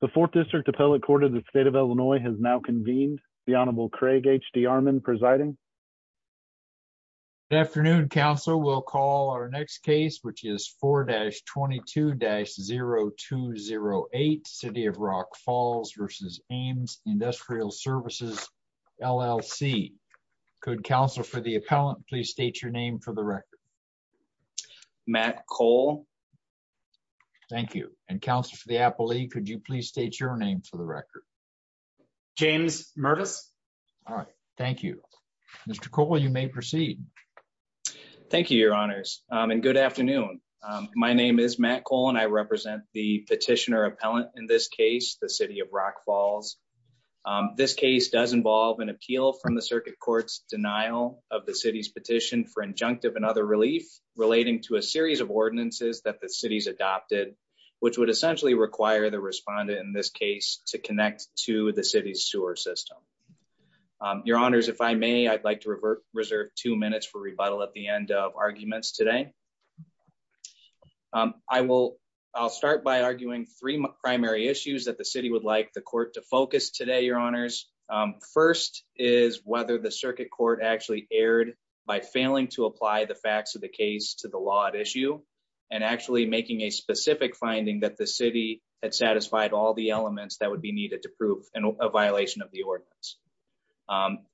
The Fourth District Appellate Court of the State of Illinois has now convened. The Honorable Craig H. D. Armon presiding. Good afternoon, counsel. We'll call our next case, which is 4-22-0208, City of Rock Falls v. Aims Industrial Services, LLC. Could counsel for the appellant please state your name for the record? Matt Cole. Thank you. And counsel for the appellee, could you please state your name for the record? James Murtis. All right, thank you. Mr. Cole, you may proceed. Thank you, your honors, and good afternoon. My name is Matt Cole and I represent the petitioner appellant in this case, the City of Rock Falls. This case does involve an appeal from the circuit court's denial of the city's petition for injunctive and other relief relating to a series of ordinances that the city's adopted, which would essentially require the respondent in this case to connect to the city's sewer system. Your honors, if I may, I'd like to reserve two minutes for rebuttal at the end of arguments today. I'll start by arguing three primary issues that the city would like the court to focus today, your honors. First is whether the circuit court actually erred by failing to apply the facts of case to the law at issue and actually making a specific finding that the city had satisfied all the elements that would be needed to prove a violation of the ordinance.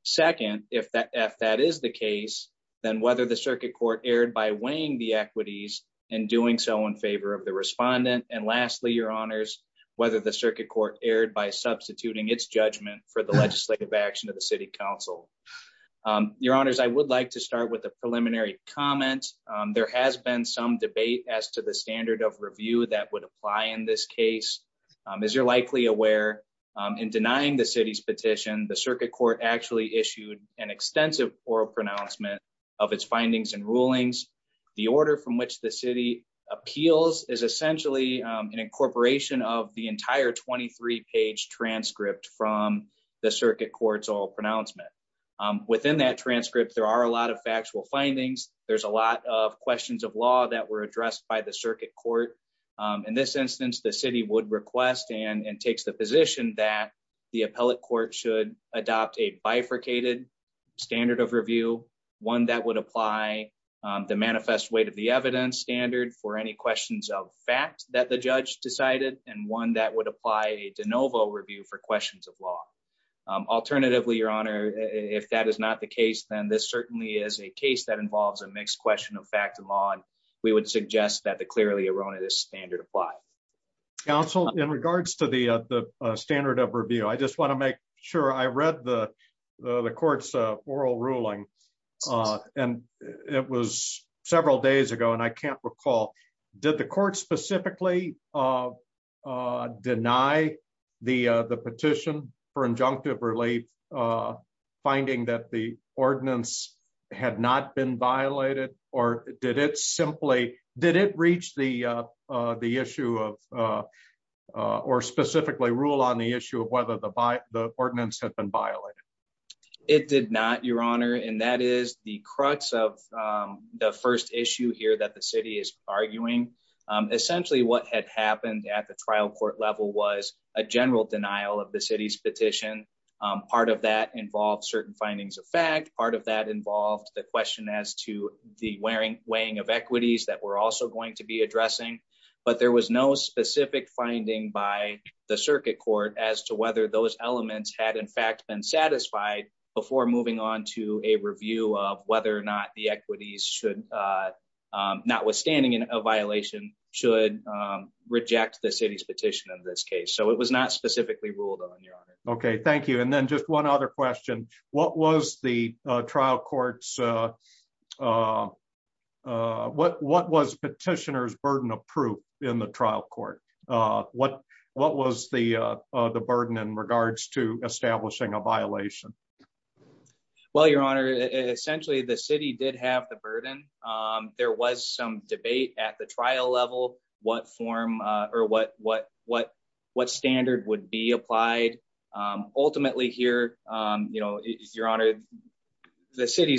Second, if that is the case, then whether the circuit court erred by weighing the equities and doing so in favor of the respondent. And lastly, your honors, whether the circuit court erred by substituting its judgment for the legislative action of the city council. Your honors, I would like to start with the there has been some debate as to the standard of review that would apply in this case. As you're likely aware, in denying the city's petition, the circuit court actually issued an extensive oral pronouncement of its findings and rulings. The order from which the city appeals is essentially an incorporation of the entire 23-page transcript from the circuit court's pronouncement. Within that transcript, there are a lot of factual findings. There's a lot of questions of law that were addressed by the circuit court. In this instance, the city would request and takes the position that the appellate court should adopt a bifurcated standard of review, one that would apply the manifest weight of the evidence standard for any questions of facts that the judge decided, and one that would apply a de novo review for questions of law. Alternatively, your honor, if that is not the case, then this certainly is a case that involves a mixed question of fact and law, and we would suggest that the clearly erroneous standard apply. Counsel, in regards to the standard of review, I just want to make sure I read the court's oral ruling, and it was several days ago, and I can't recall. Did the court specifically deny the petition for injunctive relief, finding that the ordinance had not been violated, or did it reach the issue of, or specifically rule on the issue of whether the ordinance had been violated? It did not, your honor, and that is the crux of the first issue here that the city is arguing. Essentially, what had happened at the trial court level was a general denial of the city's petition. Part of that involved certain findings of fact, part of that involved the question as to the weighing of equities that we're also going to be addressing, but there was no specific finding by the circuit court as to whether those elements had in fact been satisfied before moving on to a review of whether or not the equities should, notwithstanding a violation, should reject the city's petition of this case, so it was not specifically ruled on, your honor. Okay, thank you, and then just one other question. What was the trial court's, what was petitioner's burden of proof in the trial court? What was the burden in to establishing a violation? Well, your honor, essentially the city did have the burden. There was some debate at the trial level, what form or what standard would be applied. Ultimately here, your honor, the city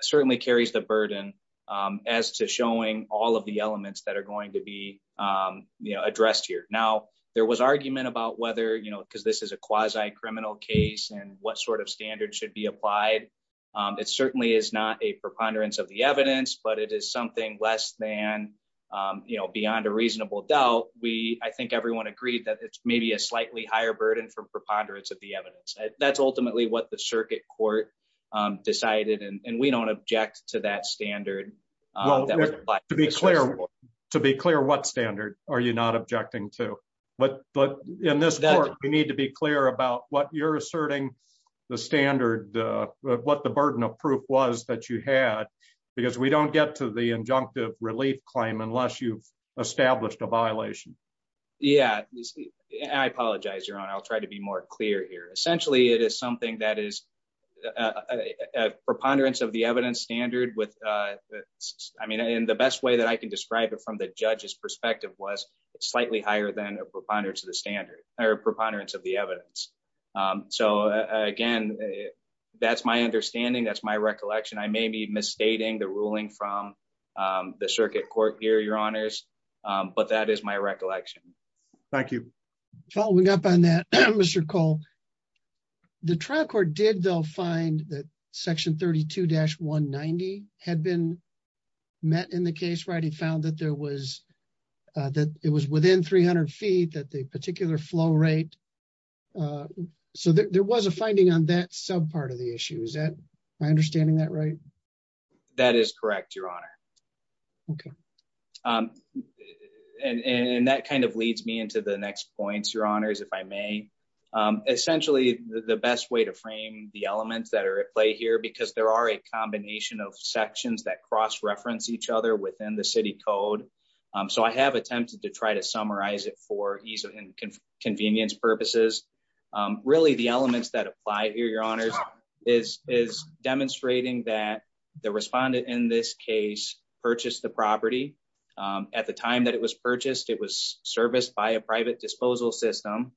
certainly carries the burden as to showing all of the elements that are going to be addressed here. Now, there was argument about whether, because this is a quasi-criminal case and what sort of standard should be applied, it certainly is not a preponderance of the evidence, but it is something less than beyond a reasonable doubt. I think everyone agreed that it's maybe a slightly higher burden for preponderance of the evidence. That's ultimately what the circuit court decided, and we don't object to that standard. To be clear, what standard are you not objecting to? But in this court, we need to be clear about what you're asserting the standard, what the burden of proof was that you had, because we don't get to the injunctive relief claim unless you've established a violation. Yeah, I apologize, your honor. I'll try to be more clear here. Essentially, it is something that is a preponderance of the evidence with, I mean, in the best way that I can describe it from the judge's perspective was slightly higher than a preponderance of the standard or preponderance of the evidence. So again, that's my understanding. That's my recollection. I may be misstating the ruling from the circuit court here, your honors, but that is my recollection. Thank you. Following up on that, Mr. Cole, the trial court did, though, find that section 32-190 had been met in the case, right? It found that there was, that it was within 300 feet that the particular flow rate, so there was a finding on that sub part of the issue. Is that my understanding that right? That is correct, your honor. Okay. And that kind of leads me into the next points, your honors, if I may. Essentially, the best way to frame the elements that are at play here, because there are a combination of sections that cross-reference each other within the city code. So I have attempted to try to summarize it for ease and convenience purposes. Really, the elements that apply here, your honors, is demonstrating that the respondent in this case purchased the property. At the time that it was purchased, it was serviced by a private disposal system.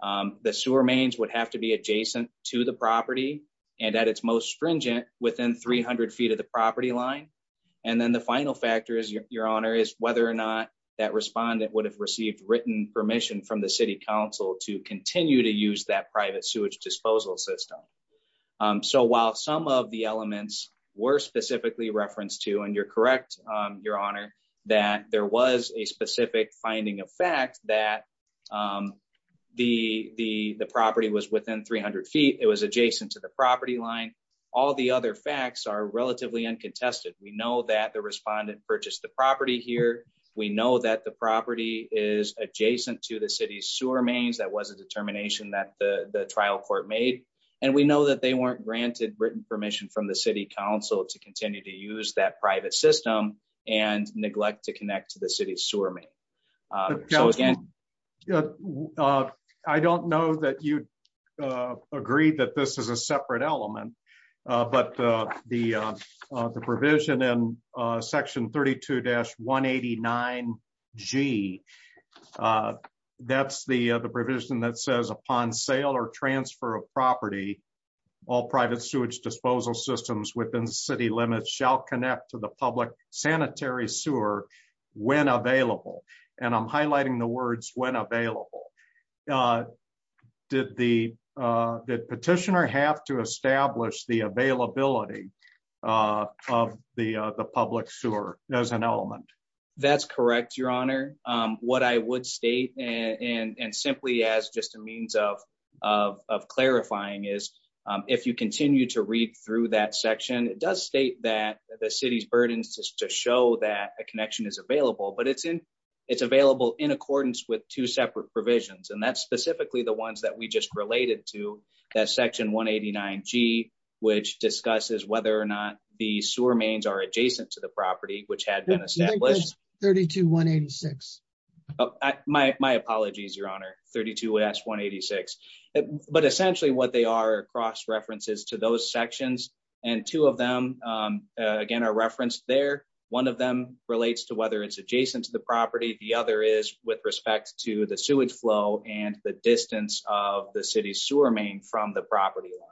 The sewer mains would have to be adjacent to the property and at its most stringent within 300 feet of the property line. And then the final factor is, your honor, is whether or not that respondent would have received written permission from the city council to continue to use that private sewage disposal system. So while some of the elements were specifically referenced to, you're correct, your honor, that there was a specific finding of fact that the property was within 300 feet. It was adjacent to the property line. All the other facts are relatively uncontested. We know that the respondent purchased the property here. We know that the property is adjacent to the city's sewer mains. That was a determination that the trial court made. And we know that they weren't and neglect to connect to the city's sewer main. I don't know that you'd agree that this is a separate element, but the provision in section 32-189G, that's the provision that says, upon sale or transfer of property, all private sewage disposal systems within city limits shall connect to the public sanitary sewer when available. And I'm highlighting the words, when available. Did the petitioner have to establish the availability of the public sewer as an element? That's correct, your honor. What I would state, and simply as just a means of clarifying, is if you continue to read through that section, it does state that the city's burdens just to show that a connection is available, but it's available in accordance with two separate provisions. And that's specifically the ones that we just related to, that section 189G, which discusses whether or not the sewer mains are adjacent to the property, which had been established. 32-186. My apologies, your honor, 32S-186. But essentially, what they are cross references to those sections, and two of them, again, are referenced there. One of them relates to whether it's adjacent to the property. The other is with respect to the sewage flow and the distance of the city's sewer main from the property line.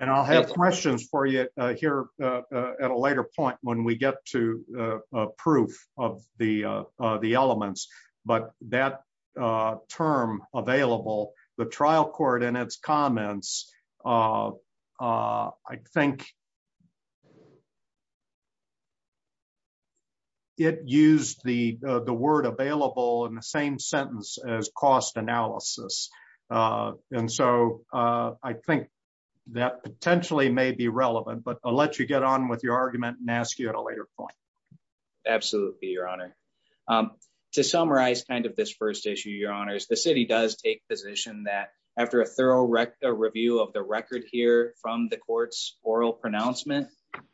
And I'll have questions for you here at a later point when we get to proof of the elements. But that term, available, the trial court in its comments, I think it used the word available in the same sentence as cost analysis. And so I think that potentially may be relevant, but I'll let you get on with your argument and ask you at a later point. Absolutely, your honor. To summarize kind of this first issue, your honors, the city does take position that after a thorough review of the record here from the court's oral pronouncement,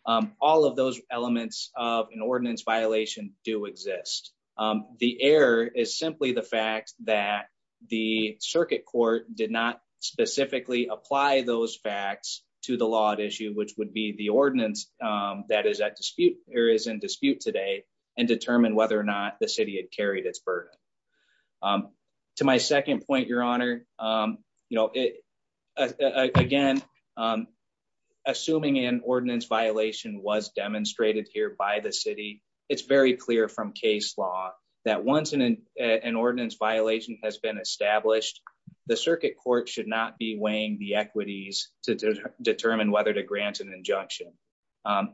all of those elements of an ordinance violation do exist. The error is simply the fact that the circuit court did not specifically apply those facts to the law at issue, which would be the ordinance that is in dispute today, and determine whether or not the city had carried its burden. To my second point, your honor, you know, again, assuming an ordinance violation was demonstrated here by the city, it's very clear from case law that once an ordinance violation has been established, the circuit court should not be weighing the equities to determine whether to grant an injunction.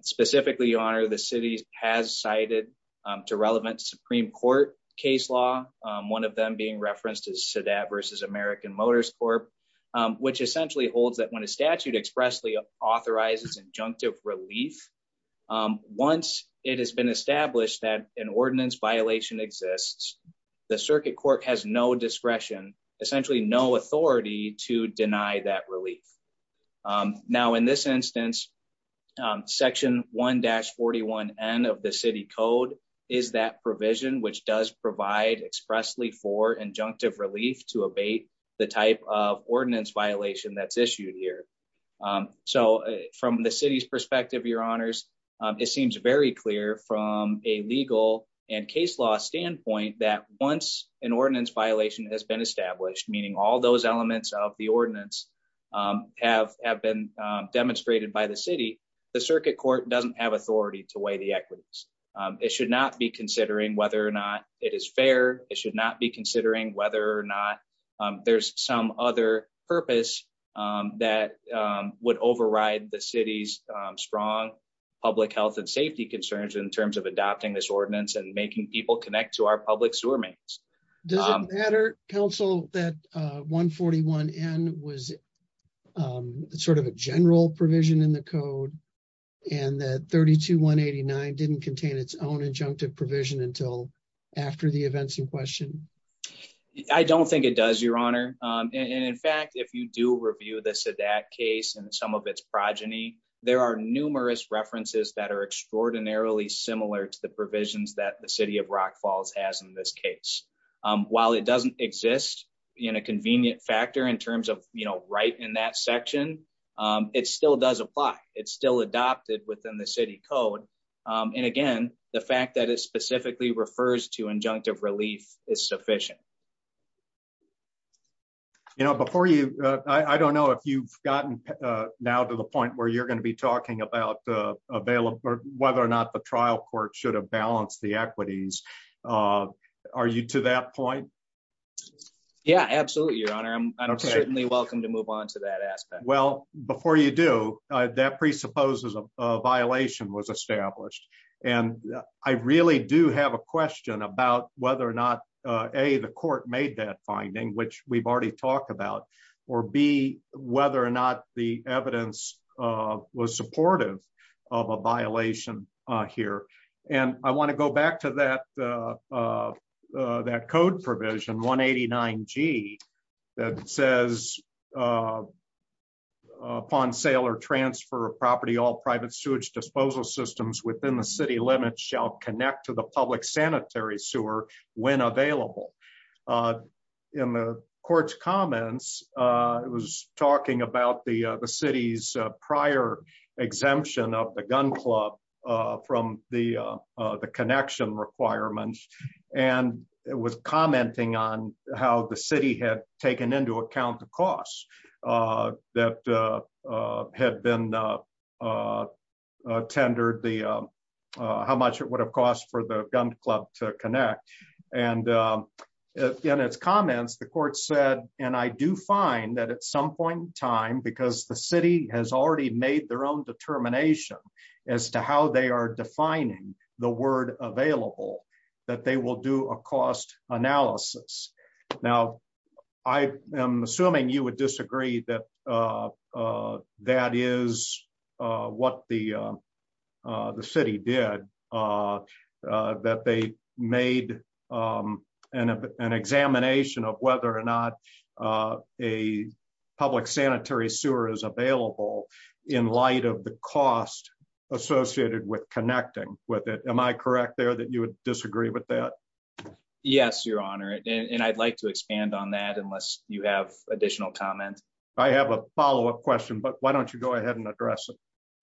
Specifically, your honor, the city has cited to relevant Supreme Court case law, one of them being referenced as SADAT versus American Motors Corp, which essentially holds that when a statute expressly authorizes injunctive relief, once it has been established that an ordinance violation exists, the circuit court has no discretion, essentially no authority to deny that relief. Now, in this instance, section 1-41N of the city code is that provision, which does provide expressly for injunctive relief to abate the type of ordinance violation that's issued here. So, from the city's perspective, your honors, it seems very clear from a legal and case law standpoint that once an ordinance violation has been established, meaning all those elements of the ordinance have been demonstrated by the city, the circuit court doesn't have authority to weigh the equities. It should not be considering whether or not it is fair. It should not be considering whether or not there's some other purpose that would override the city's strong public health and safety concerns in terms of adopting this ordinance and making people connect to our public sewer mains. Does it matter, counsel, that 1-41N was sort of a general provision in the code and that 32-189 didn't contain its own injunctive provision until after the events in question? I don't think it does, your honor. In fact, if you do review the Sadat case and some of its progeny, there are numerous references that are extraordinarily similar to the provisions that the city of Rock Falls has in this case. While it doesn't exist in a convenient factor in terms of right in that section, it still does apply. It's still adopted within the city code. And again, the fact that it specifically refers to injunctive relief is sufficient. I don't know if you've gotten now to the point where you're going to be talking about whether or not the trial court should have balanced the equities. Are you to that point? Yeah, absolutely, your honor. I'm certainly welcome to move on to that aspect. Well, before you do, that presupposes a violation was established. And I really do have a question about whether or not, A, the court made that finding, which we've already talked about, or B, whether or not the evidence was supportive of a violation here. And I want to go back to that code provision 189 G that says, upon sale or transfer of property, all private sewage disposal systems within the city limits shall connect to the public sanitary sewer when available. In the court's comments, it was talking about the city's prior exemption of the gun club from the connection requirements. And it was commenting on how the city had taken into account the costs that had been tendered, how much it would have cost for the gun club to connect. And in its comments, the court said, and I do find that at some point in time, because the city has already made their own determination as to how they are defining the word available, that they will do a cost analysis. Now, I am assuming you would disagree that that is what the the city did, that they made an examination of whether or not a public sanitary sewer is available in light of the cost associated with connecting with it. Am I correct there that you would disagree with that? Yes, Your Honor. And I'd like to expand on that unless you have additional comments. I have a follow up question, but why don't you go ahead and address it?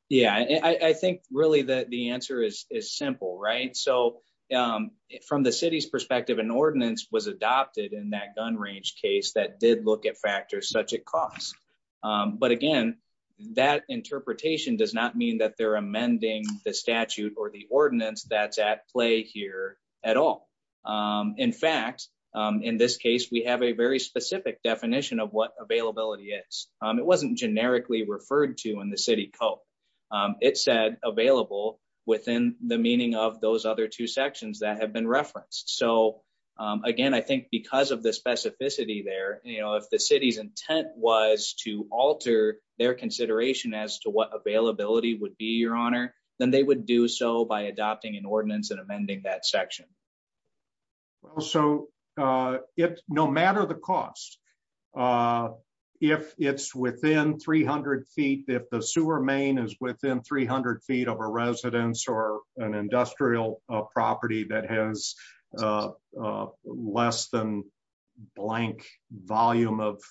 Yeah, I think really that the answer is simple, right? So from the city's gun range case that did look at factors such a cost. But again, that interpretation does not mean that they're amending the statute or the ordinance that's at play here at all. In fact, in this case, we have a very specific definition of what availability is. It wasn't generically referred to in the city code. It said available within the meaning of those other two sections that have been referenced. So again, I think because of the specificity there, you know, if the city's intent was to alter their consideration as to what availability would be, Your Honor, then they would do so by adopting an ordinance and amending that section. So if no matter the cost, if it's within 300 feet, if the sewer main is within 300 feet of residents or an industrial property that has less than blank volume of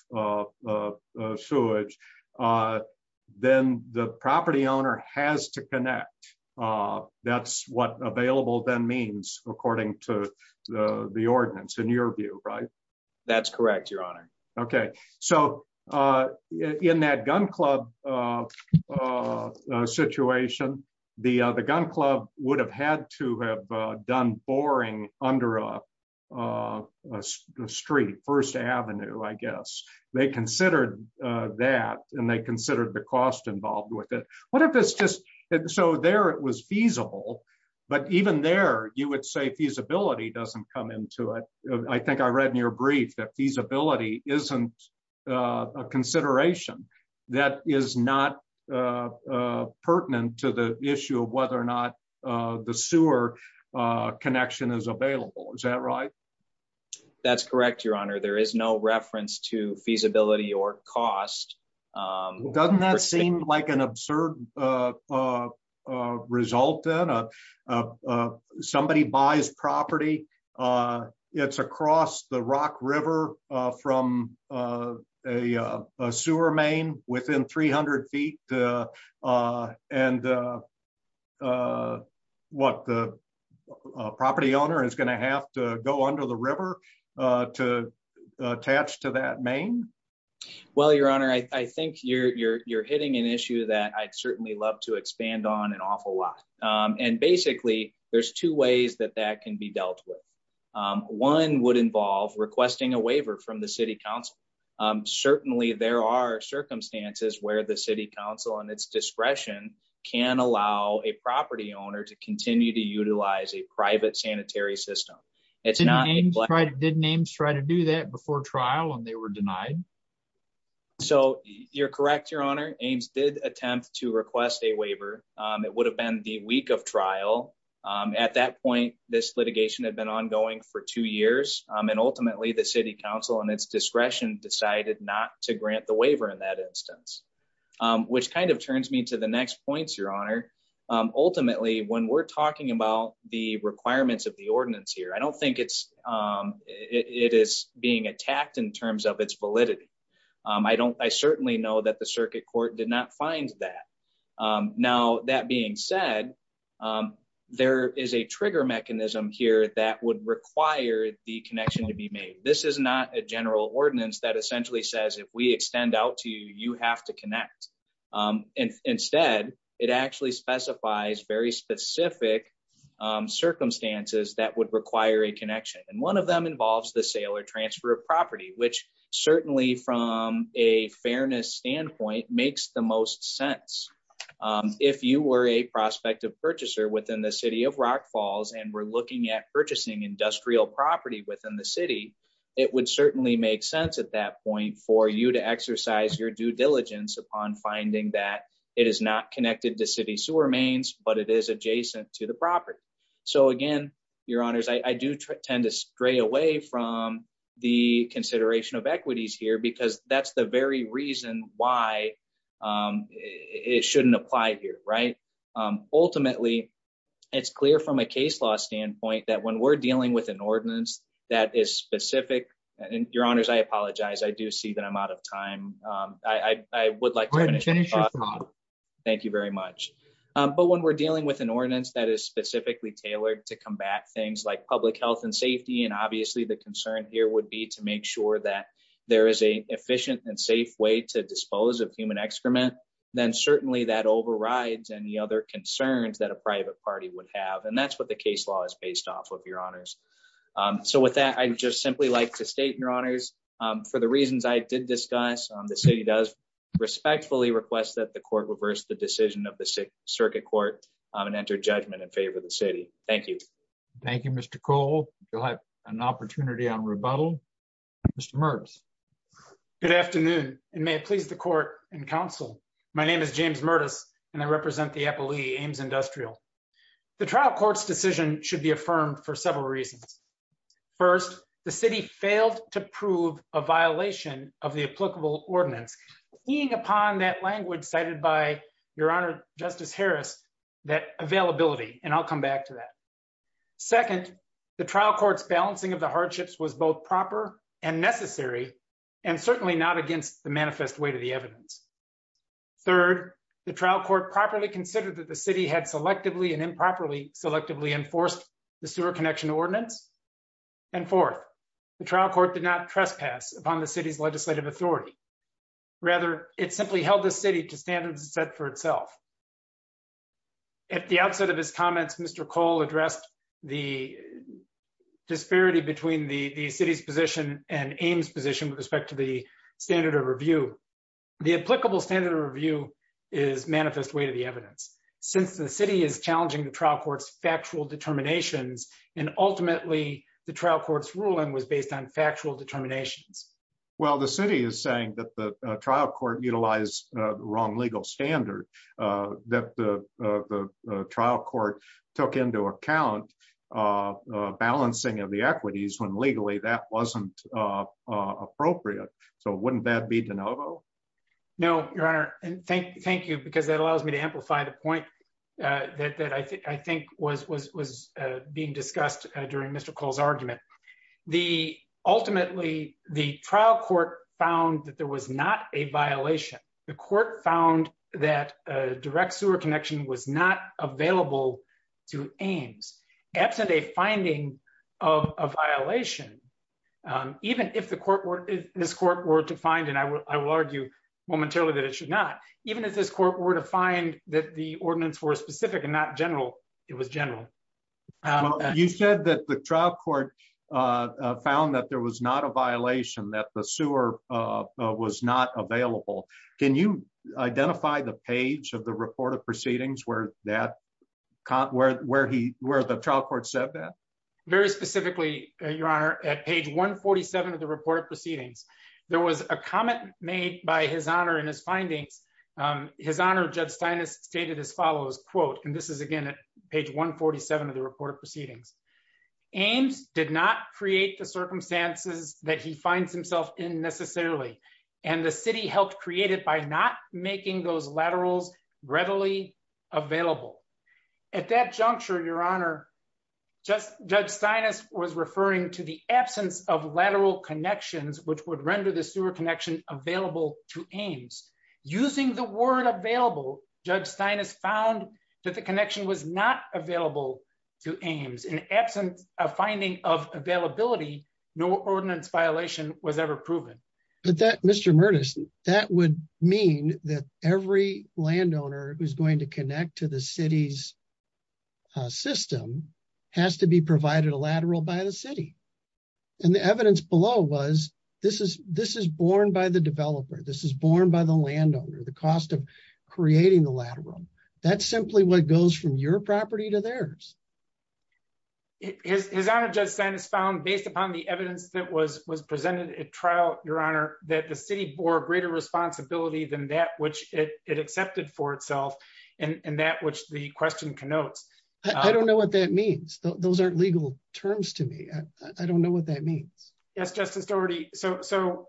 sewage, then the property owner has to connect. That's what available then means according to the ordinance in your view, right? That's correct, Your Honor. Okay. So in that gun club a situation, the gun club would have had to have done boring under a street, First Avenue, I guess. They considered that and they considered the cost involved with it. So there it was feasible. But even there, you would say feasibility doesn't come into it. I think I read in your brief that feasibility isn't a consideration that is not pertinent to the issue of whether or not the sewer connection is available. Is that right? That's correct, Your Honor, there is no reference to feasibility or cost. Doesn't that seem like an absurd a result in somebody buys property? It's across the Rock River from a sewer main within 300 feet. And what the property owner is going to have to go under the river to attach to that main? Well, Your Honor, I think you're hitting an issue that I'd certainly love to expand on an awful lot. And basically, there's two ways that that can be dealt with. One would involve requesting a waiver from the city council. Certainly, there are circumstances where the city council and its discretion can allow a property owner to continue to utilize a private sanitary system. It's not didn't aims try to do that before trial and they were denied. So you're correct, Your Honor aims did attempt to request a waiver, it would have been the week of trial. At that point, this litigation had been ongoing for two years. And ultimately, the city council and its discretion decided not to grant the waiver in that instance, which kind of turns me to the next points, Your Honor. Ultimately, when we're talking about the requirements of ordinance here, I don't think it's it is being attacked in terms of its validity. I don't I certainly know that the circuit court did not find that. Now, that being said, there is a trigger mechanism here that would require the connection to be made. This is not a general ordinance that essentially says if we extend out to you, you have to connect. And instead, it actually specifies very specific circumstances that would require a connection. And one of them involves the sale or transfer of property, which certainly from a fairness standpoint makes the most sense. If you were a prospective purchaser within the city of Rock Falls, and we're looking at purchasing industrial property within the city, it would certainly make sense at that point for you to it is adjacent to the property. So again, Your Honors, I do tend to stray away from the consideration of equities here, because that's the very reason why it shouldn't apply here, right? Ultimately, it's clear from a case law standpoint that when we're dealing with an ordinance that is specific, and Your Honors, I apologize, I do see that I'm out of time. I would like to finish. Thank you very much. But when we're dealing with an ordinance that is specifically tailored to combat things like public health and safety, and obviously the concern here would be to make sure that there is a efficient and safe way to dispose of human excrement, then certainly that overrides any other concerns that a private party would have. And that's what the case law is based off of, Your Honors. So with that, I just simply like to state, Your Honors, for the reasons I did discuss, the city does respectfully request that the court reverse the decision of the Circuit Court and enter judgment in favor of the city. Thank you. Thank you, Mr. Cole. You'll have an opportunity on rebuttal. Mr. Mertz. Good afternoon, and may it please the Court and Council. My name is James Mertz, and I represent the FLE, Ames Industrial. The trial court's decision should be affirmed for a violation of the applicable ordinance, seeing upon that language cited by Your Honor Justice Harris, that availability, and I'll come back to that. Second, the trial court's balancing of the hardships was both proper and necessary, and certainly not against the manifest weight of the evidence. Third, the trial court properly considered that the city had selectively and improperly selectively enforced the sewer connection ordinance. And fourth, the trial court did not trespass upon the city's legislative authority. Rather, it simply held the city to stand and set for itself. At the outset of his comments, Mr. Cole addressed the disparity between the city's position and Ames' position with respect to the standard of review. The applicable standard of review is manifest weight of the evidence. Since the city is challenging the based on factual determinations. Well, the city is saying that the trial court utilized the wrong legal standard, that the trial court took into account balancing of the equities when legally that wasn't appropriate. So wouldn't that be de novo? No, Your Honor, and thank you, because that allows me to amplify the point that I think was being discussed during Mr. Cole's argument. Ultimately, the trial court found that there was not a violation. The court found that a direct sewer connection was not available to Ames. Absent a finding of a violation, even if this court were to find, and I will argue momentarily that it should not, even if this court were to find that the ordinance were specific and not general, it was general. You said that the trial court found that there was not a violation, that the sewer was not available. Can you identify the page of the report of proceedings where the trial court said that? Very specifically, Your Honor, at page 147 of the report of proceedings, there was a comment made by His Honor in his findings. His Honor, Judge Steinis stated as follows, quote, and this is again at page 147 of the report of proceedings, Ames did not create the circumstances that he finds himself in necessarily, and the city helped create it by not making those laterals readily available. At that juncture, Your Honor, Judge Steinis was referring to the absence of lateral connections which would render the sewer connection available to Ames. Using the word available, Judge Steinis found that the connection was not available to Ames. In absence of finding of availability, no ordinance violation was ever proven. But that, Mr. Mertes, that would mean that every landowner who's going to connect to the city's system has to be provided a lateral by the city. And the evidence below was, this is born by the developer, this is born by the landowner, the cost of creating the lateral. That's simply what goes from your property to theirs. His Honor, Judge Steinis found based upon the evidence that was presented at trial, Your Honor, that the city bore greater responsibility than that which it accepted for itself and that which the question connotes. I don't know what that means. Those aren't legal terms to me. I don't know.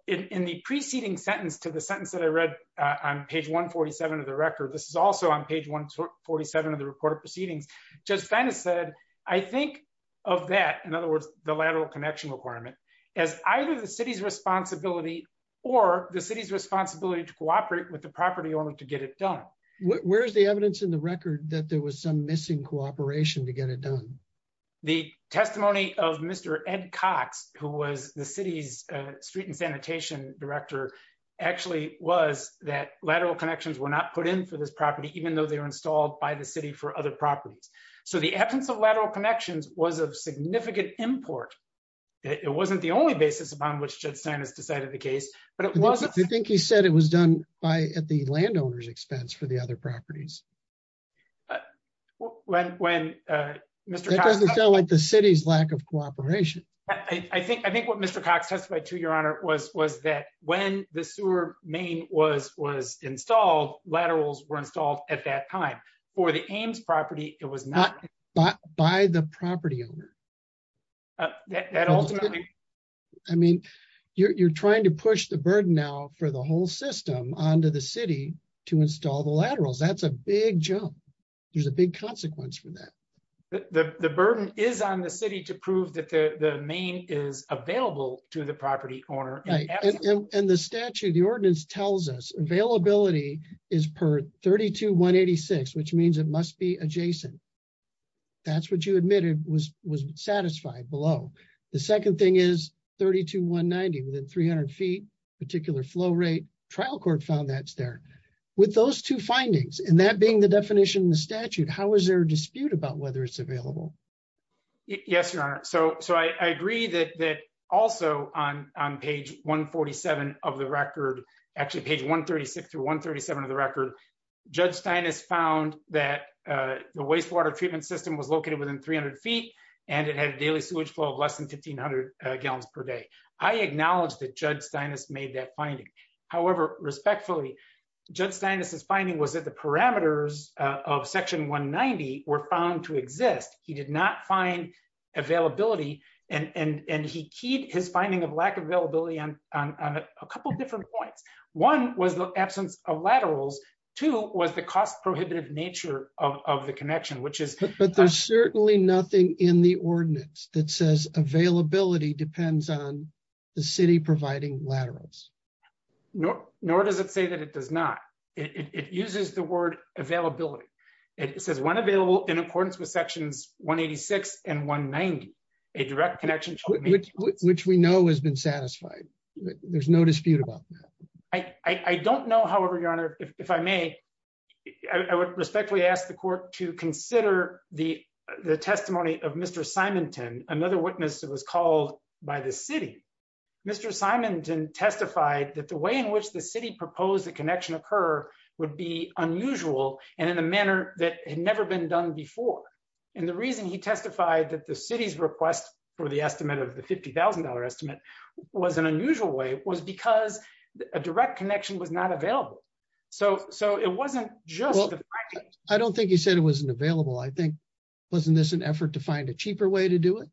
In the preceding sentence to the sentence that I read on page 147 of the record, this is also on page 147 of the report of proceedings, Judge Steinis said, I think of that, in other words, the lateral connection requirement, as either the city's responsibility or the city's responsibility to cooperate with the property owner to get it done. Where's the evidence in the record that there was some missing cooperation to get it done? The testimony of Mr. Ed Cox, who was the city's street and sanitation director, actually was that lateral connections were not put in for this property, even though they were installed by the city for other properties. So the absence of lateral connections was of significant import. It wasn't the only basis upon which Judge Steinis decided the case, but it wasn't. I think he said it was done by at the landowner's expense for the other properties. That doesn't sound like the city's lack of cooperation. I think what Mr. Cox testified to, Your Honor, was that when the sewer main was installed, laterals were installed at that time. For the Ames property, it was not- By the property owner. I mean, you're trying to push the burden now for the whole system onto the city to install the laterals. That's a big jump. There's a big consequence for that. The burden is on the city to prove that the main is available to the property owner. And the statute, the ordinance tells us availability is per 32-186, which means it must be adjacent. That's what you admitted was satisfied below. The second thing is 32-190, 300 feet, particular flow rate. Trial court found that's there. With those two findings, and that being the definition in the statute, how is there a dispute about whether it's available? Yes, Your Honor. I agree that also on page 147 of the record, actually page 136-137 of the record, Judge Steinis found that the wastewater treatment system was located within 300 feet, and it had a daily sewage flow of less than 1,500 gallons per day. I acknowledge that Judge Steinis made that finding. However, respectfully, Judge Steinis' finding was that the parameters of section 190 were found to exist. He did not find availability, and he keyed his finding of lack of availability on a couple of different points. One was the absence of laterals. Two was the cost-prohibitive nature of the connection, which is- Nothing in the ordinance that says availability depends on the city providing laterals. Nor does it say that it does not. It uses the word availability. It says when available in accordance with sections 186 and 190, a direct connection- Which we know has been satisfied. There's no dispute about that. I don't know, however, Your Honor, if I may, I would respectfully ask the court to consider the testimony of Mr. Simonton, another witness that was called by the city. Mr. Simonton testified that the way in which the city proposed the connection occur would be unusual and in a manner that had never been done before. The reason he testified that the city's request for the estimate of the $50,000 estimate was an unusual way was because a direct connection was not available. So it wasn't just- I don't think he said it wasn't available. I think, wasn't this an effort to find a cheaper way to do it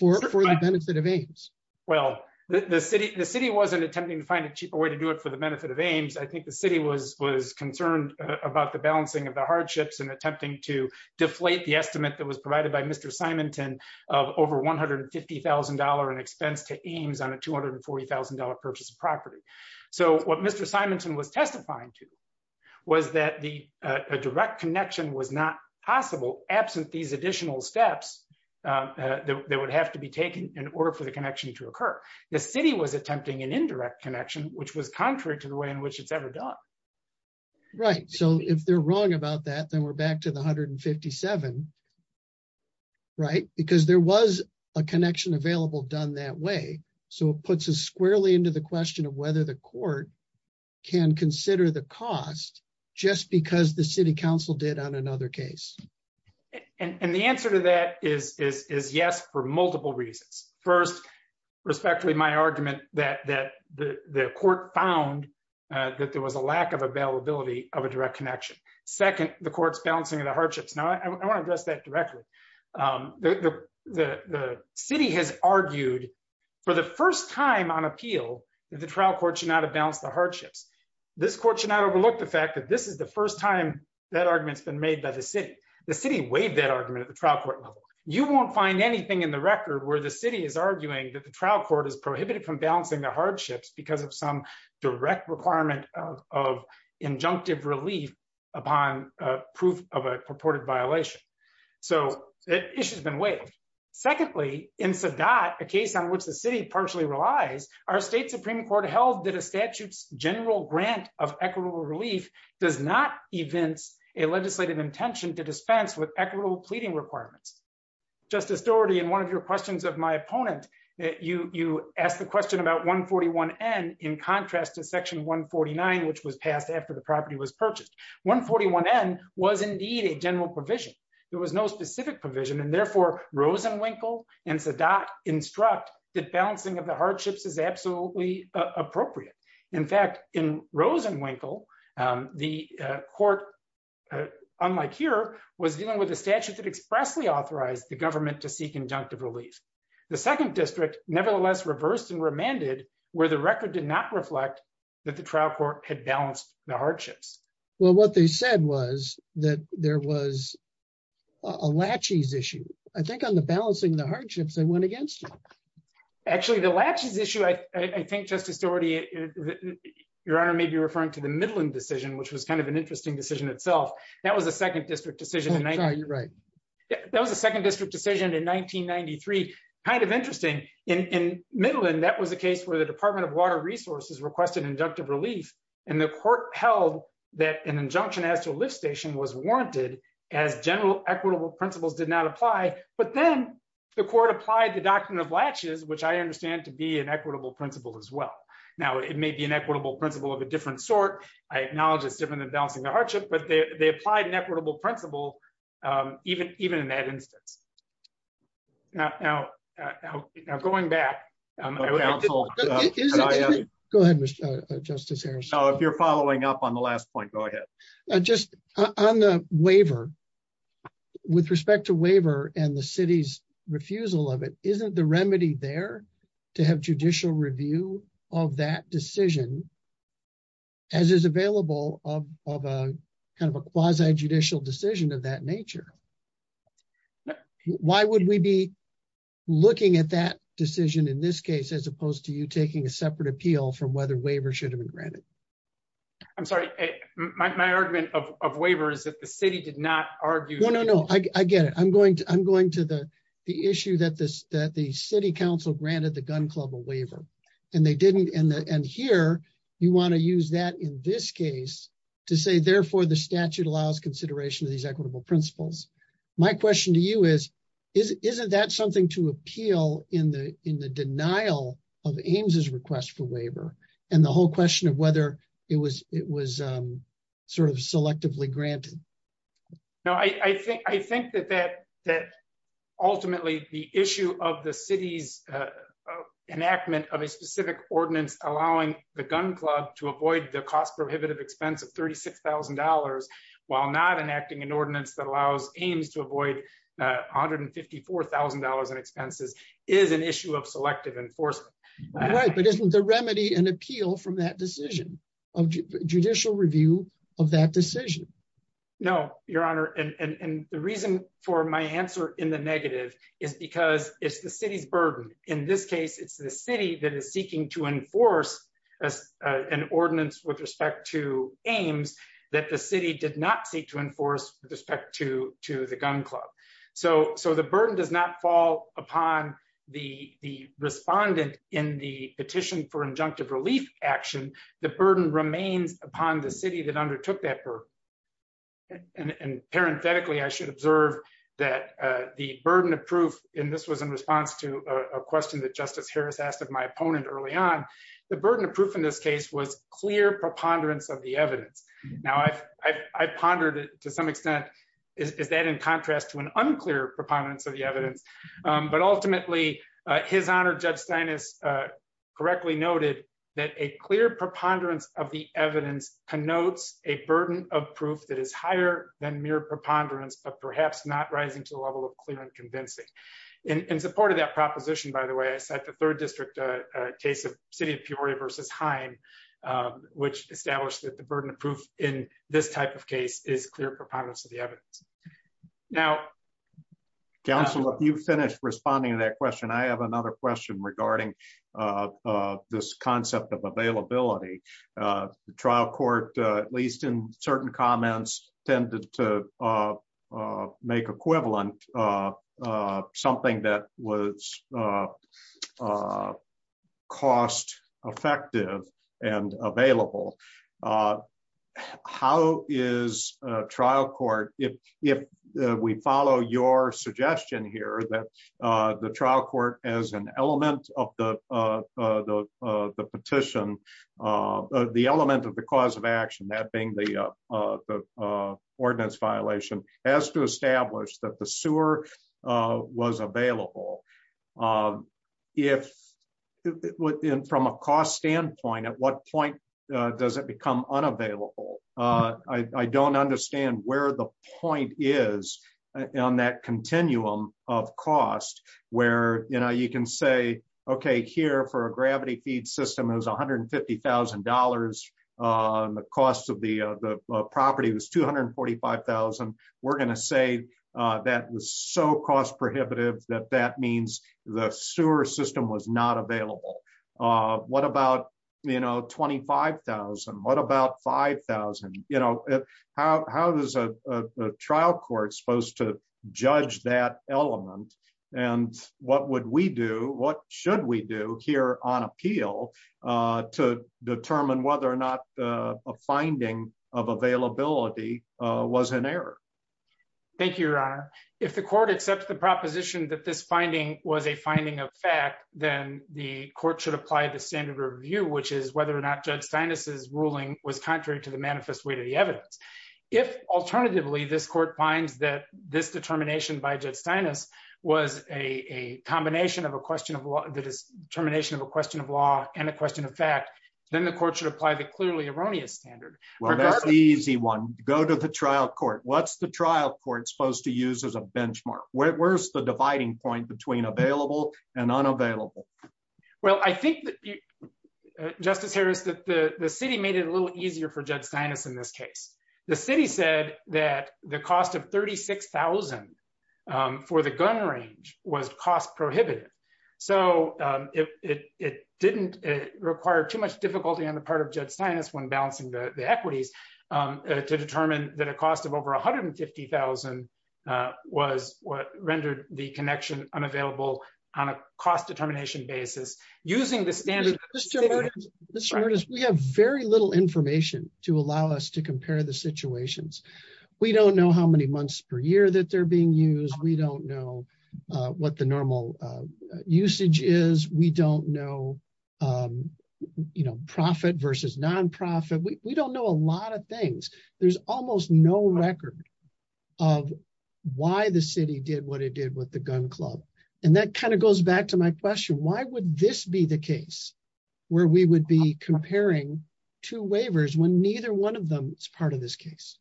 for the benefit of Ames? Well, the city wasn't attempting to find a cheaper way to do it for the benefit of Ames. I think the city was concerned about the balancing of the hardships and attempting to deflate the estimate that was provided by Mr. Simonton of over $150,000 in expense to Ames on a $240,000 purchase of property. So what Mr. Simonton was testifying to was that a direct connection was not possible absent these additional steps that would have to be taken in order for the connection to occur. The city was attempting an indirect connection, which was contrary to the way in which it's ever done. Right. So if they're wrong about that, then we're back to the $157,000, right? Because there was a connection available done that way. So it puts us squarely into the question of whether the court can consider the cost just because the city council did on another case. And the answer to that is yes, for multiple reasons. First, respectfully, my argument that the court found that there was a lack of availability of a direct connection. Second, the court's balancing of the hardships. Now, I want to address that directly. The city has argued for the first time on appeal that the trial court should not have balanced the hardships. This court should not overlook the fact that this is the first time that argument's been made by the city. The city weighed that argument at the trial court level. You won't find anything in the record where the city is arguing that the trial court is prohibited from balancing the hardships because of some direct requirement of injunctive relief upon proof of a purported violation. So the issue has been weighed. Secondly, in Sadat, a case on which the city partially relies, our state Supreme Court held that a statute's general grant of equitable relief does not evince a legislative intention to dispense with equitable pleading requirements. Justice Dougherty, in one of your questions of my opponent, you asked the question about 141N in contrast to section 149, which was passed after the property was purchased. 141N was indeed a general provision. There was no specific provision, and therefore Rosenwinkel and Sadat instruct that balancing of the hardships is appropriate. In fact, in Rosenwinkel, the court, unlike here, was dealing with a statute that expressly authorized the government to seek injunctive relief. The second district nevertheless reversed and remanded where the record did not reflect that the trial court had balanced the hardships. Well, what they said was that there was a laches issue. I think on the balancing the I think, Justice Dougherty, Your Honor may be referring to the Midland decision, which was kind of an interesting decision itself. That was a second district decision in 1993. Kind of interesting. In Midland, that was a case where the Department of Water Resources requested inductive relief, and the court held that an injunction as to a lift station was warranted as general equitable principles did not apply. But then the court applied the doctrine of laches, which I Now, it may be an equitable principle of a different sort. I acknowledge it's different than balancing the hardship, but they applied an equitable principle, even in that instance. Now, going back... Go ahead, Justice Harris. No, if you're following up on the last point, go ahead. Just on the waiver, with respect to waiver and the city's refusal of it, isn't the remedy there to have judicial review of that decision, as is available of a kind of a quasi-judicial decision of that nature? Why would we be looking at that decision in this case, as opposed to you taking a separate appeal from whether waiver should have been granted? I'm sorry. My argument of waiver is that the city did not argue... No, I get it. I'm going to the issue that the city council granted the gun club a waiver, and they didn't... And here, you want to use that in this case to say, therefore, the statute allows consideration of these equitable principles. My question to you is, isn't that something to appeal in the denial of Ames' request for waiver, and the whole question of whether it was sort of selectively granted? No, I think that ultimately, the issue of the city's enactment of a specific ordinance allowing the gun club to avoid the cost prohibitive expense of $36,000, while not enacting an ordinance that allows Ames to avoid $154,000 in expenses, is an issue of selective enforcement. Right, but isn't the remedy an appeal from that decision of judicial review of that decision? No, Your Honor, and the reason for my answer in the negative is because it's the city's burden. In this case, it's the city that is seeking to enforce an ordinance with respect to Ames that the city did not seek to enforce with respect to the gun club. So the burden does not fall upon the respondent in the petition for injunctive relief action. The burden remains upon the city that undertook that burden. And parenthetically, I should observe that the burden of proof, and this was in response to a question that Justice Harris asked of my opponent early on, the burden of proof in this case was clear preponderance of the evidence. Now, I've pondered to some extent, is that in contrast to an unclear preponderance of the evidence? But ultimately, His Honor, Judge Stein is correctly noted that a clear preponderance of the evidence connotes a burden of proof that is higher than mere preponderance, but perhaps not rising to the level of clear and convincing. In support of that proposition, by the way, I cite the third district case of City of Peoria versus Hine, which established that the burden of proof in this type of case is clear preponderance of the evidence. Now, counsel, if you finish responding to that question, I have another question regarding this concept of availability. The trial court, at least in certain comments, tended to make equivalent something that was cost effective and available. How is trial court, if we follow your suggestion here that the trial court as an element of the petition, the element of the cause of action, that being the ordinance violation, has to establish that the sewer was available? From a cost standpoint, at what point does it become unavailable? I don't understand where the point is on that continuum of cost where you can say, okay, here for a gravity feed system, it was $150,000. The cost of the property was $245,000. We're going to say that was so cost prohibitive that that means the sewer system was not available. What about $25,000? What about $5,000? How is a trial court supposed to judge that element? What would we do? What should we do here on appeal to determine whether or not a finding of availability was an error? Thank you, Your Honor. If the court accepts the proposition that this finding was a finding of fact, then the court should apply the standard review, which is whether or not Judge Steinis' ruling was contrary to the manifest weight of the evidence. If, alternatively, this court finds that this determination by Judge Steinis was a combination of a question of law and a question of fact, then the court should apply the clearly erroneous standard. That's the easy one. Go to the trial court. What's the trial court supposed to use as a benchmark? Where's the dividing point between available and unavailable? Justice Harris, the city made it a little easier for Judge Steinis in this case. The city said that the cost of $36,000 for the gun range was cost prohibitive. It didn't require too much difficulty on the part of Judge Steinis when balancing the equities to determine that a cost of over $150,000 was what rendered the connection unavailable on a cost determination basis using the standard. Mr. Curtis, we have very little information to allow us to compare the situations. We don't know how many months per year that they're being used. We don't know what the normal usage is. We don't know profit versus non-profit. We don't know a lot of things. There's almost no record of why the city did what it did with the gun club. That goes back to my question. Why would this the case where we would be comparing two waivers when neither one of them is part of this case?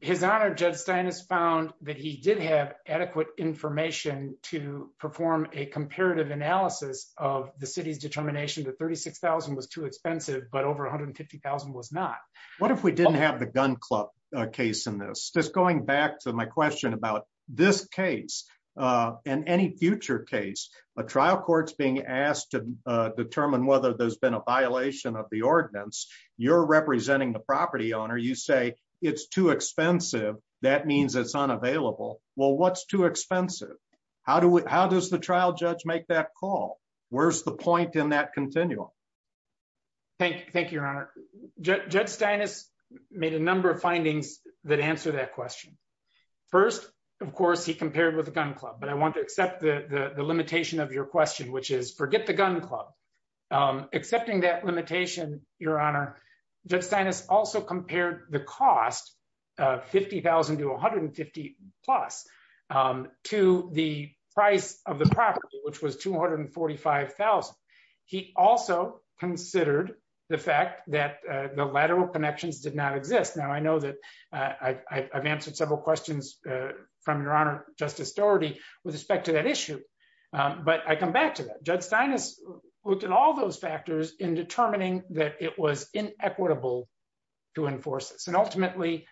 His Honor, Judge Steinis found that he did have adequate information to perform a comparative analysis of the city's determination that $36,000 was too expensive but over $150,000 was not. What if we didn't have the gun club case in this? Just going back to my question about this case and any future case, a trial court's being asked to determine whether there's been a violation of the ordinance. You're representing the property owner. You say it's too expensive. That means it's unavailable. Well, what's too expensive? How does the trial judge make that call? Where's the point in that continuum? Thank you, Your Honor. Judge Steinis made a number of findings that answer that question. First, of course, he compared with the gun club, but I want to accept the limitation of your question, which is forget the gun club. Accepting that limitation, Your Honor, Judge Steinis also compared the cost of $50,000 to $150,000 plus to the price of the property, which was $245,000. He also considered the fact that the lateral connections did not exist. Now, I've answered several questions from Your Honor, Justice Dougherty with respect to that issue, but I come back to that. Judge Steinis looked at all those factors in determining that it was inequitable to enforce this. Ultimately,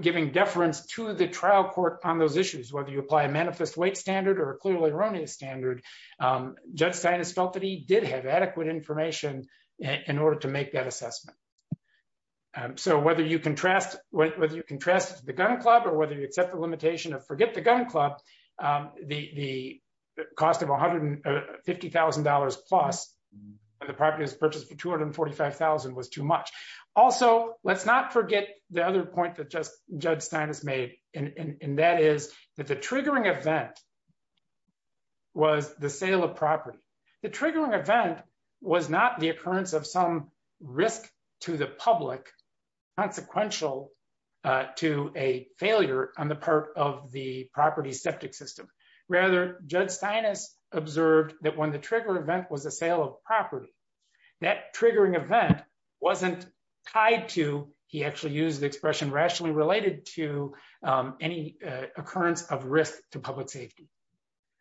giving deference to the trial court on those issues, whether you apply a manifest weight standard or a clearly erroneous standard, Judge Steinis felt that he did have adequate information in order to make that assessment. So whether you can trust the gun club or whether you accept the limitation of forget the gun club, the cost of $150,000 plus and the property was purchased for $245,000 was too much. Also, let's not forget the other point that Judge Steinis made, and that is that the triggering event was the sale of property. The triggering event was not the occurrence of some risk to the public consequential to a failure on the part of the property septic system. Rather, Judge Steinis observed that when the trigger event was a sale of property, that triggering event wasn't tied to, he actually used the expression rationally related to any occurrence of risk to public safety.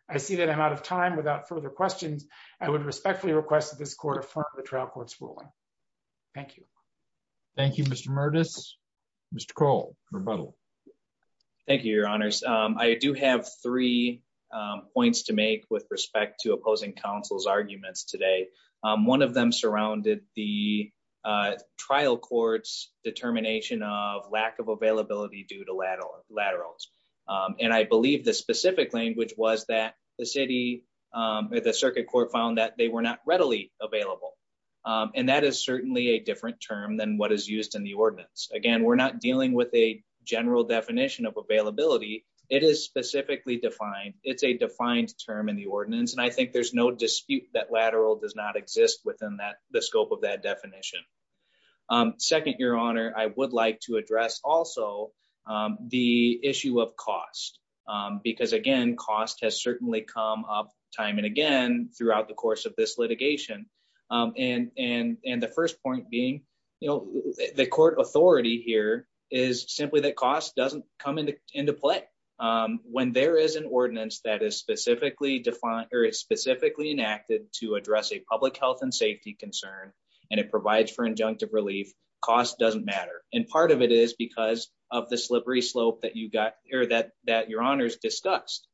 I see that I'm out of time. Without further questions, I would respectfully request that this court affirm the trial court's ruling. Thank you. Thank you, Mr. Murtis. Mr. Kroll, rebuttal. Thank you, your honors. I do have three points to make with respect to opposing counsel's determination of lack of availability due to lateral laterals. I believe the specific language was that the circuit court found that they were not readily available. That is certainly a different term than what is used in the ordinance. Again, we're not dealing with a general definition of availability. It is specifically defined. It's a defined term in the ordinance. I think there's no dispute that lateral does not exist within the scope of that definition. Second, your honor, I would like to address also the issue of cost. Again, cost has certainly come up time and again throughout the course of this litigation. The first point being, the court authority here is simply that cost doesn't come into play when there is an ordinance that is specifically enacted to address a public health and safety concern. It provides injunctive relief. Cost doesn't matter. Part of it is because of the slippery slope that your honors discussed.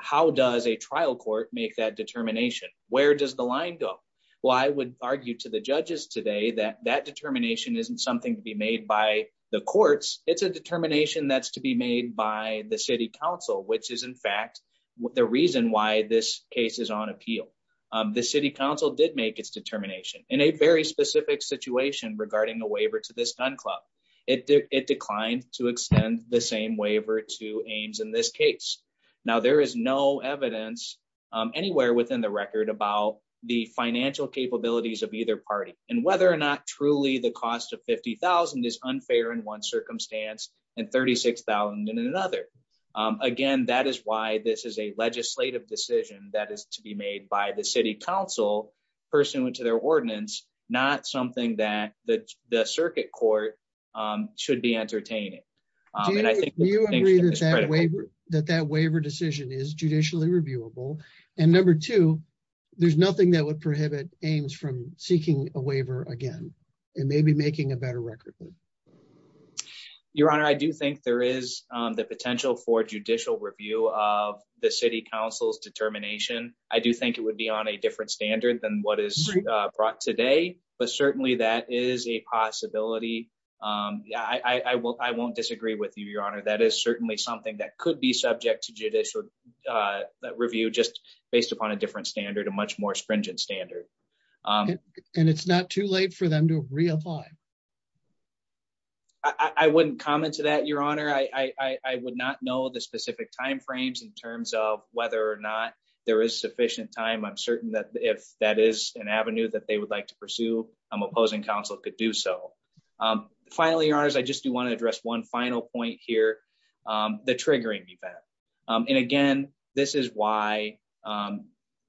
How does a trial court make that determination? Where does the line go? Well, I would argue to the judges today that that determination isn't something to be made by the courts. It's a determination that's to be made by the city council, which is in fact the reason why this case is on appeal. The city council did make its determination. In a very specific situation regarding a waiver to this gun club, it declined to extend the same waiver to Ames in this case. Now, there is no evidence anywhere within the record about the financial capabilities of either party and whether or not truly the cost of $50,000 is unfair in one circumstance and $36,000 in another. Again, that is why this is a legislative decision that is to their ordinance, not something that the circuit court should be entertaining. Do you agree that that waiver decision is judicially reviewable? And number two, there's nothing that would prohibit Ames from seeking a waiver again and maybe making a better record. Your honor, I do think there is the potential for judicial review of the city council's determination. I do think it would be on a different standard than what is brought today, but certainly that is a possibility. Yeah, I won't disagree with you, your honor. That is certainly something that could be subject to judicial review just based upon a different standard, a much more stringent standard. And it's not too late for them to reapply. I wouldn't comment to that, your honor. I would not know the specific time frames in terms of there is sufficient time. I'm certain that if that is an avenue that they would like to pursue, an opposing council could do so. Finally, your honors, I just do want to address one final point here, the triggering event. And again, this is why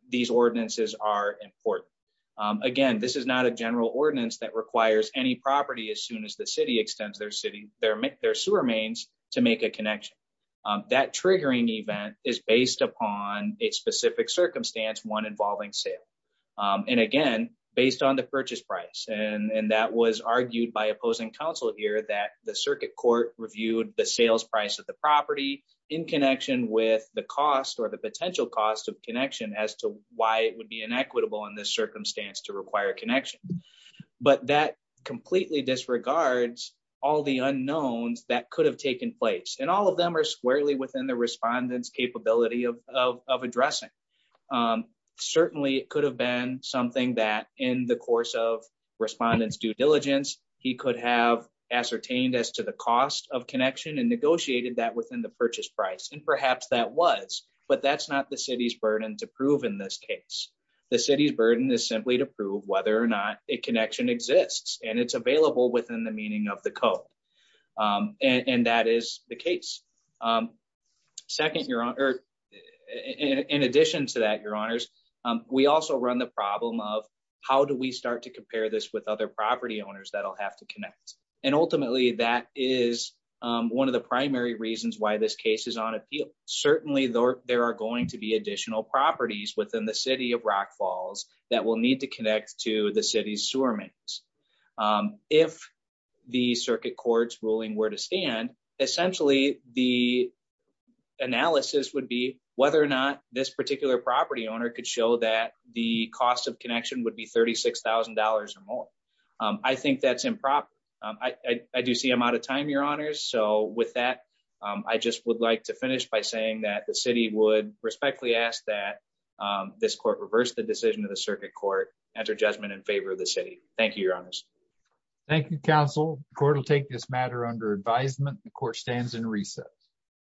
these ordinances are important. Again, this is not a general ordinance that requires any property as soon as the city extends their sewer mains to make a connection. That triggering event is based upon a specific circumstance, one involving sale. And again, based on the purchase price. And that was argued by opposing council here that the circuit court reviewed the sales price of the property in connection with the cost or the potential cost of connection as to why it would be inequitable in this circumstance to require connection. But that completely disregards all the unknowns that could have taken place. And all of them are squarely within the respondents capability of addressing. Certainly it could have been something that in the course of respondents due diligence, he could have ascertained as to the cost of connection and negotiated that within the purchase price. And perhaps that was, but that's not the city's burden to prove in this case. The city's burden is simply to prove whether or not a connection exists and it's available within the meaning of the code. And that is the case. Second, your honor, in addition to that, your honors, we also run the problem of how do we start to compare this with other property owners that'll have to connect. And ultimately that is one of the primary reasons why this case is on appeal. Certainly there are going to be additional properties within the city of Rock Falls that will need to connect to the city's sewer mains. If the circuit court's ruling were to stand, essentially the analysis would be whether or not this particular property owner could show that the cost of connection would be $36,000 or more. I think that's improper. I do see I'm out of time, your honors. So with that, I just would like to finish by saying that the city would respectfully ask that this court reverse the decision of the circuit court, enter judgment in favor of the city. Thank you, your honors. Thank you, counsel. The court will take this matter under advisement. The court stands in recess.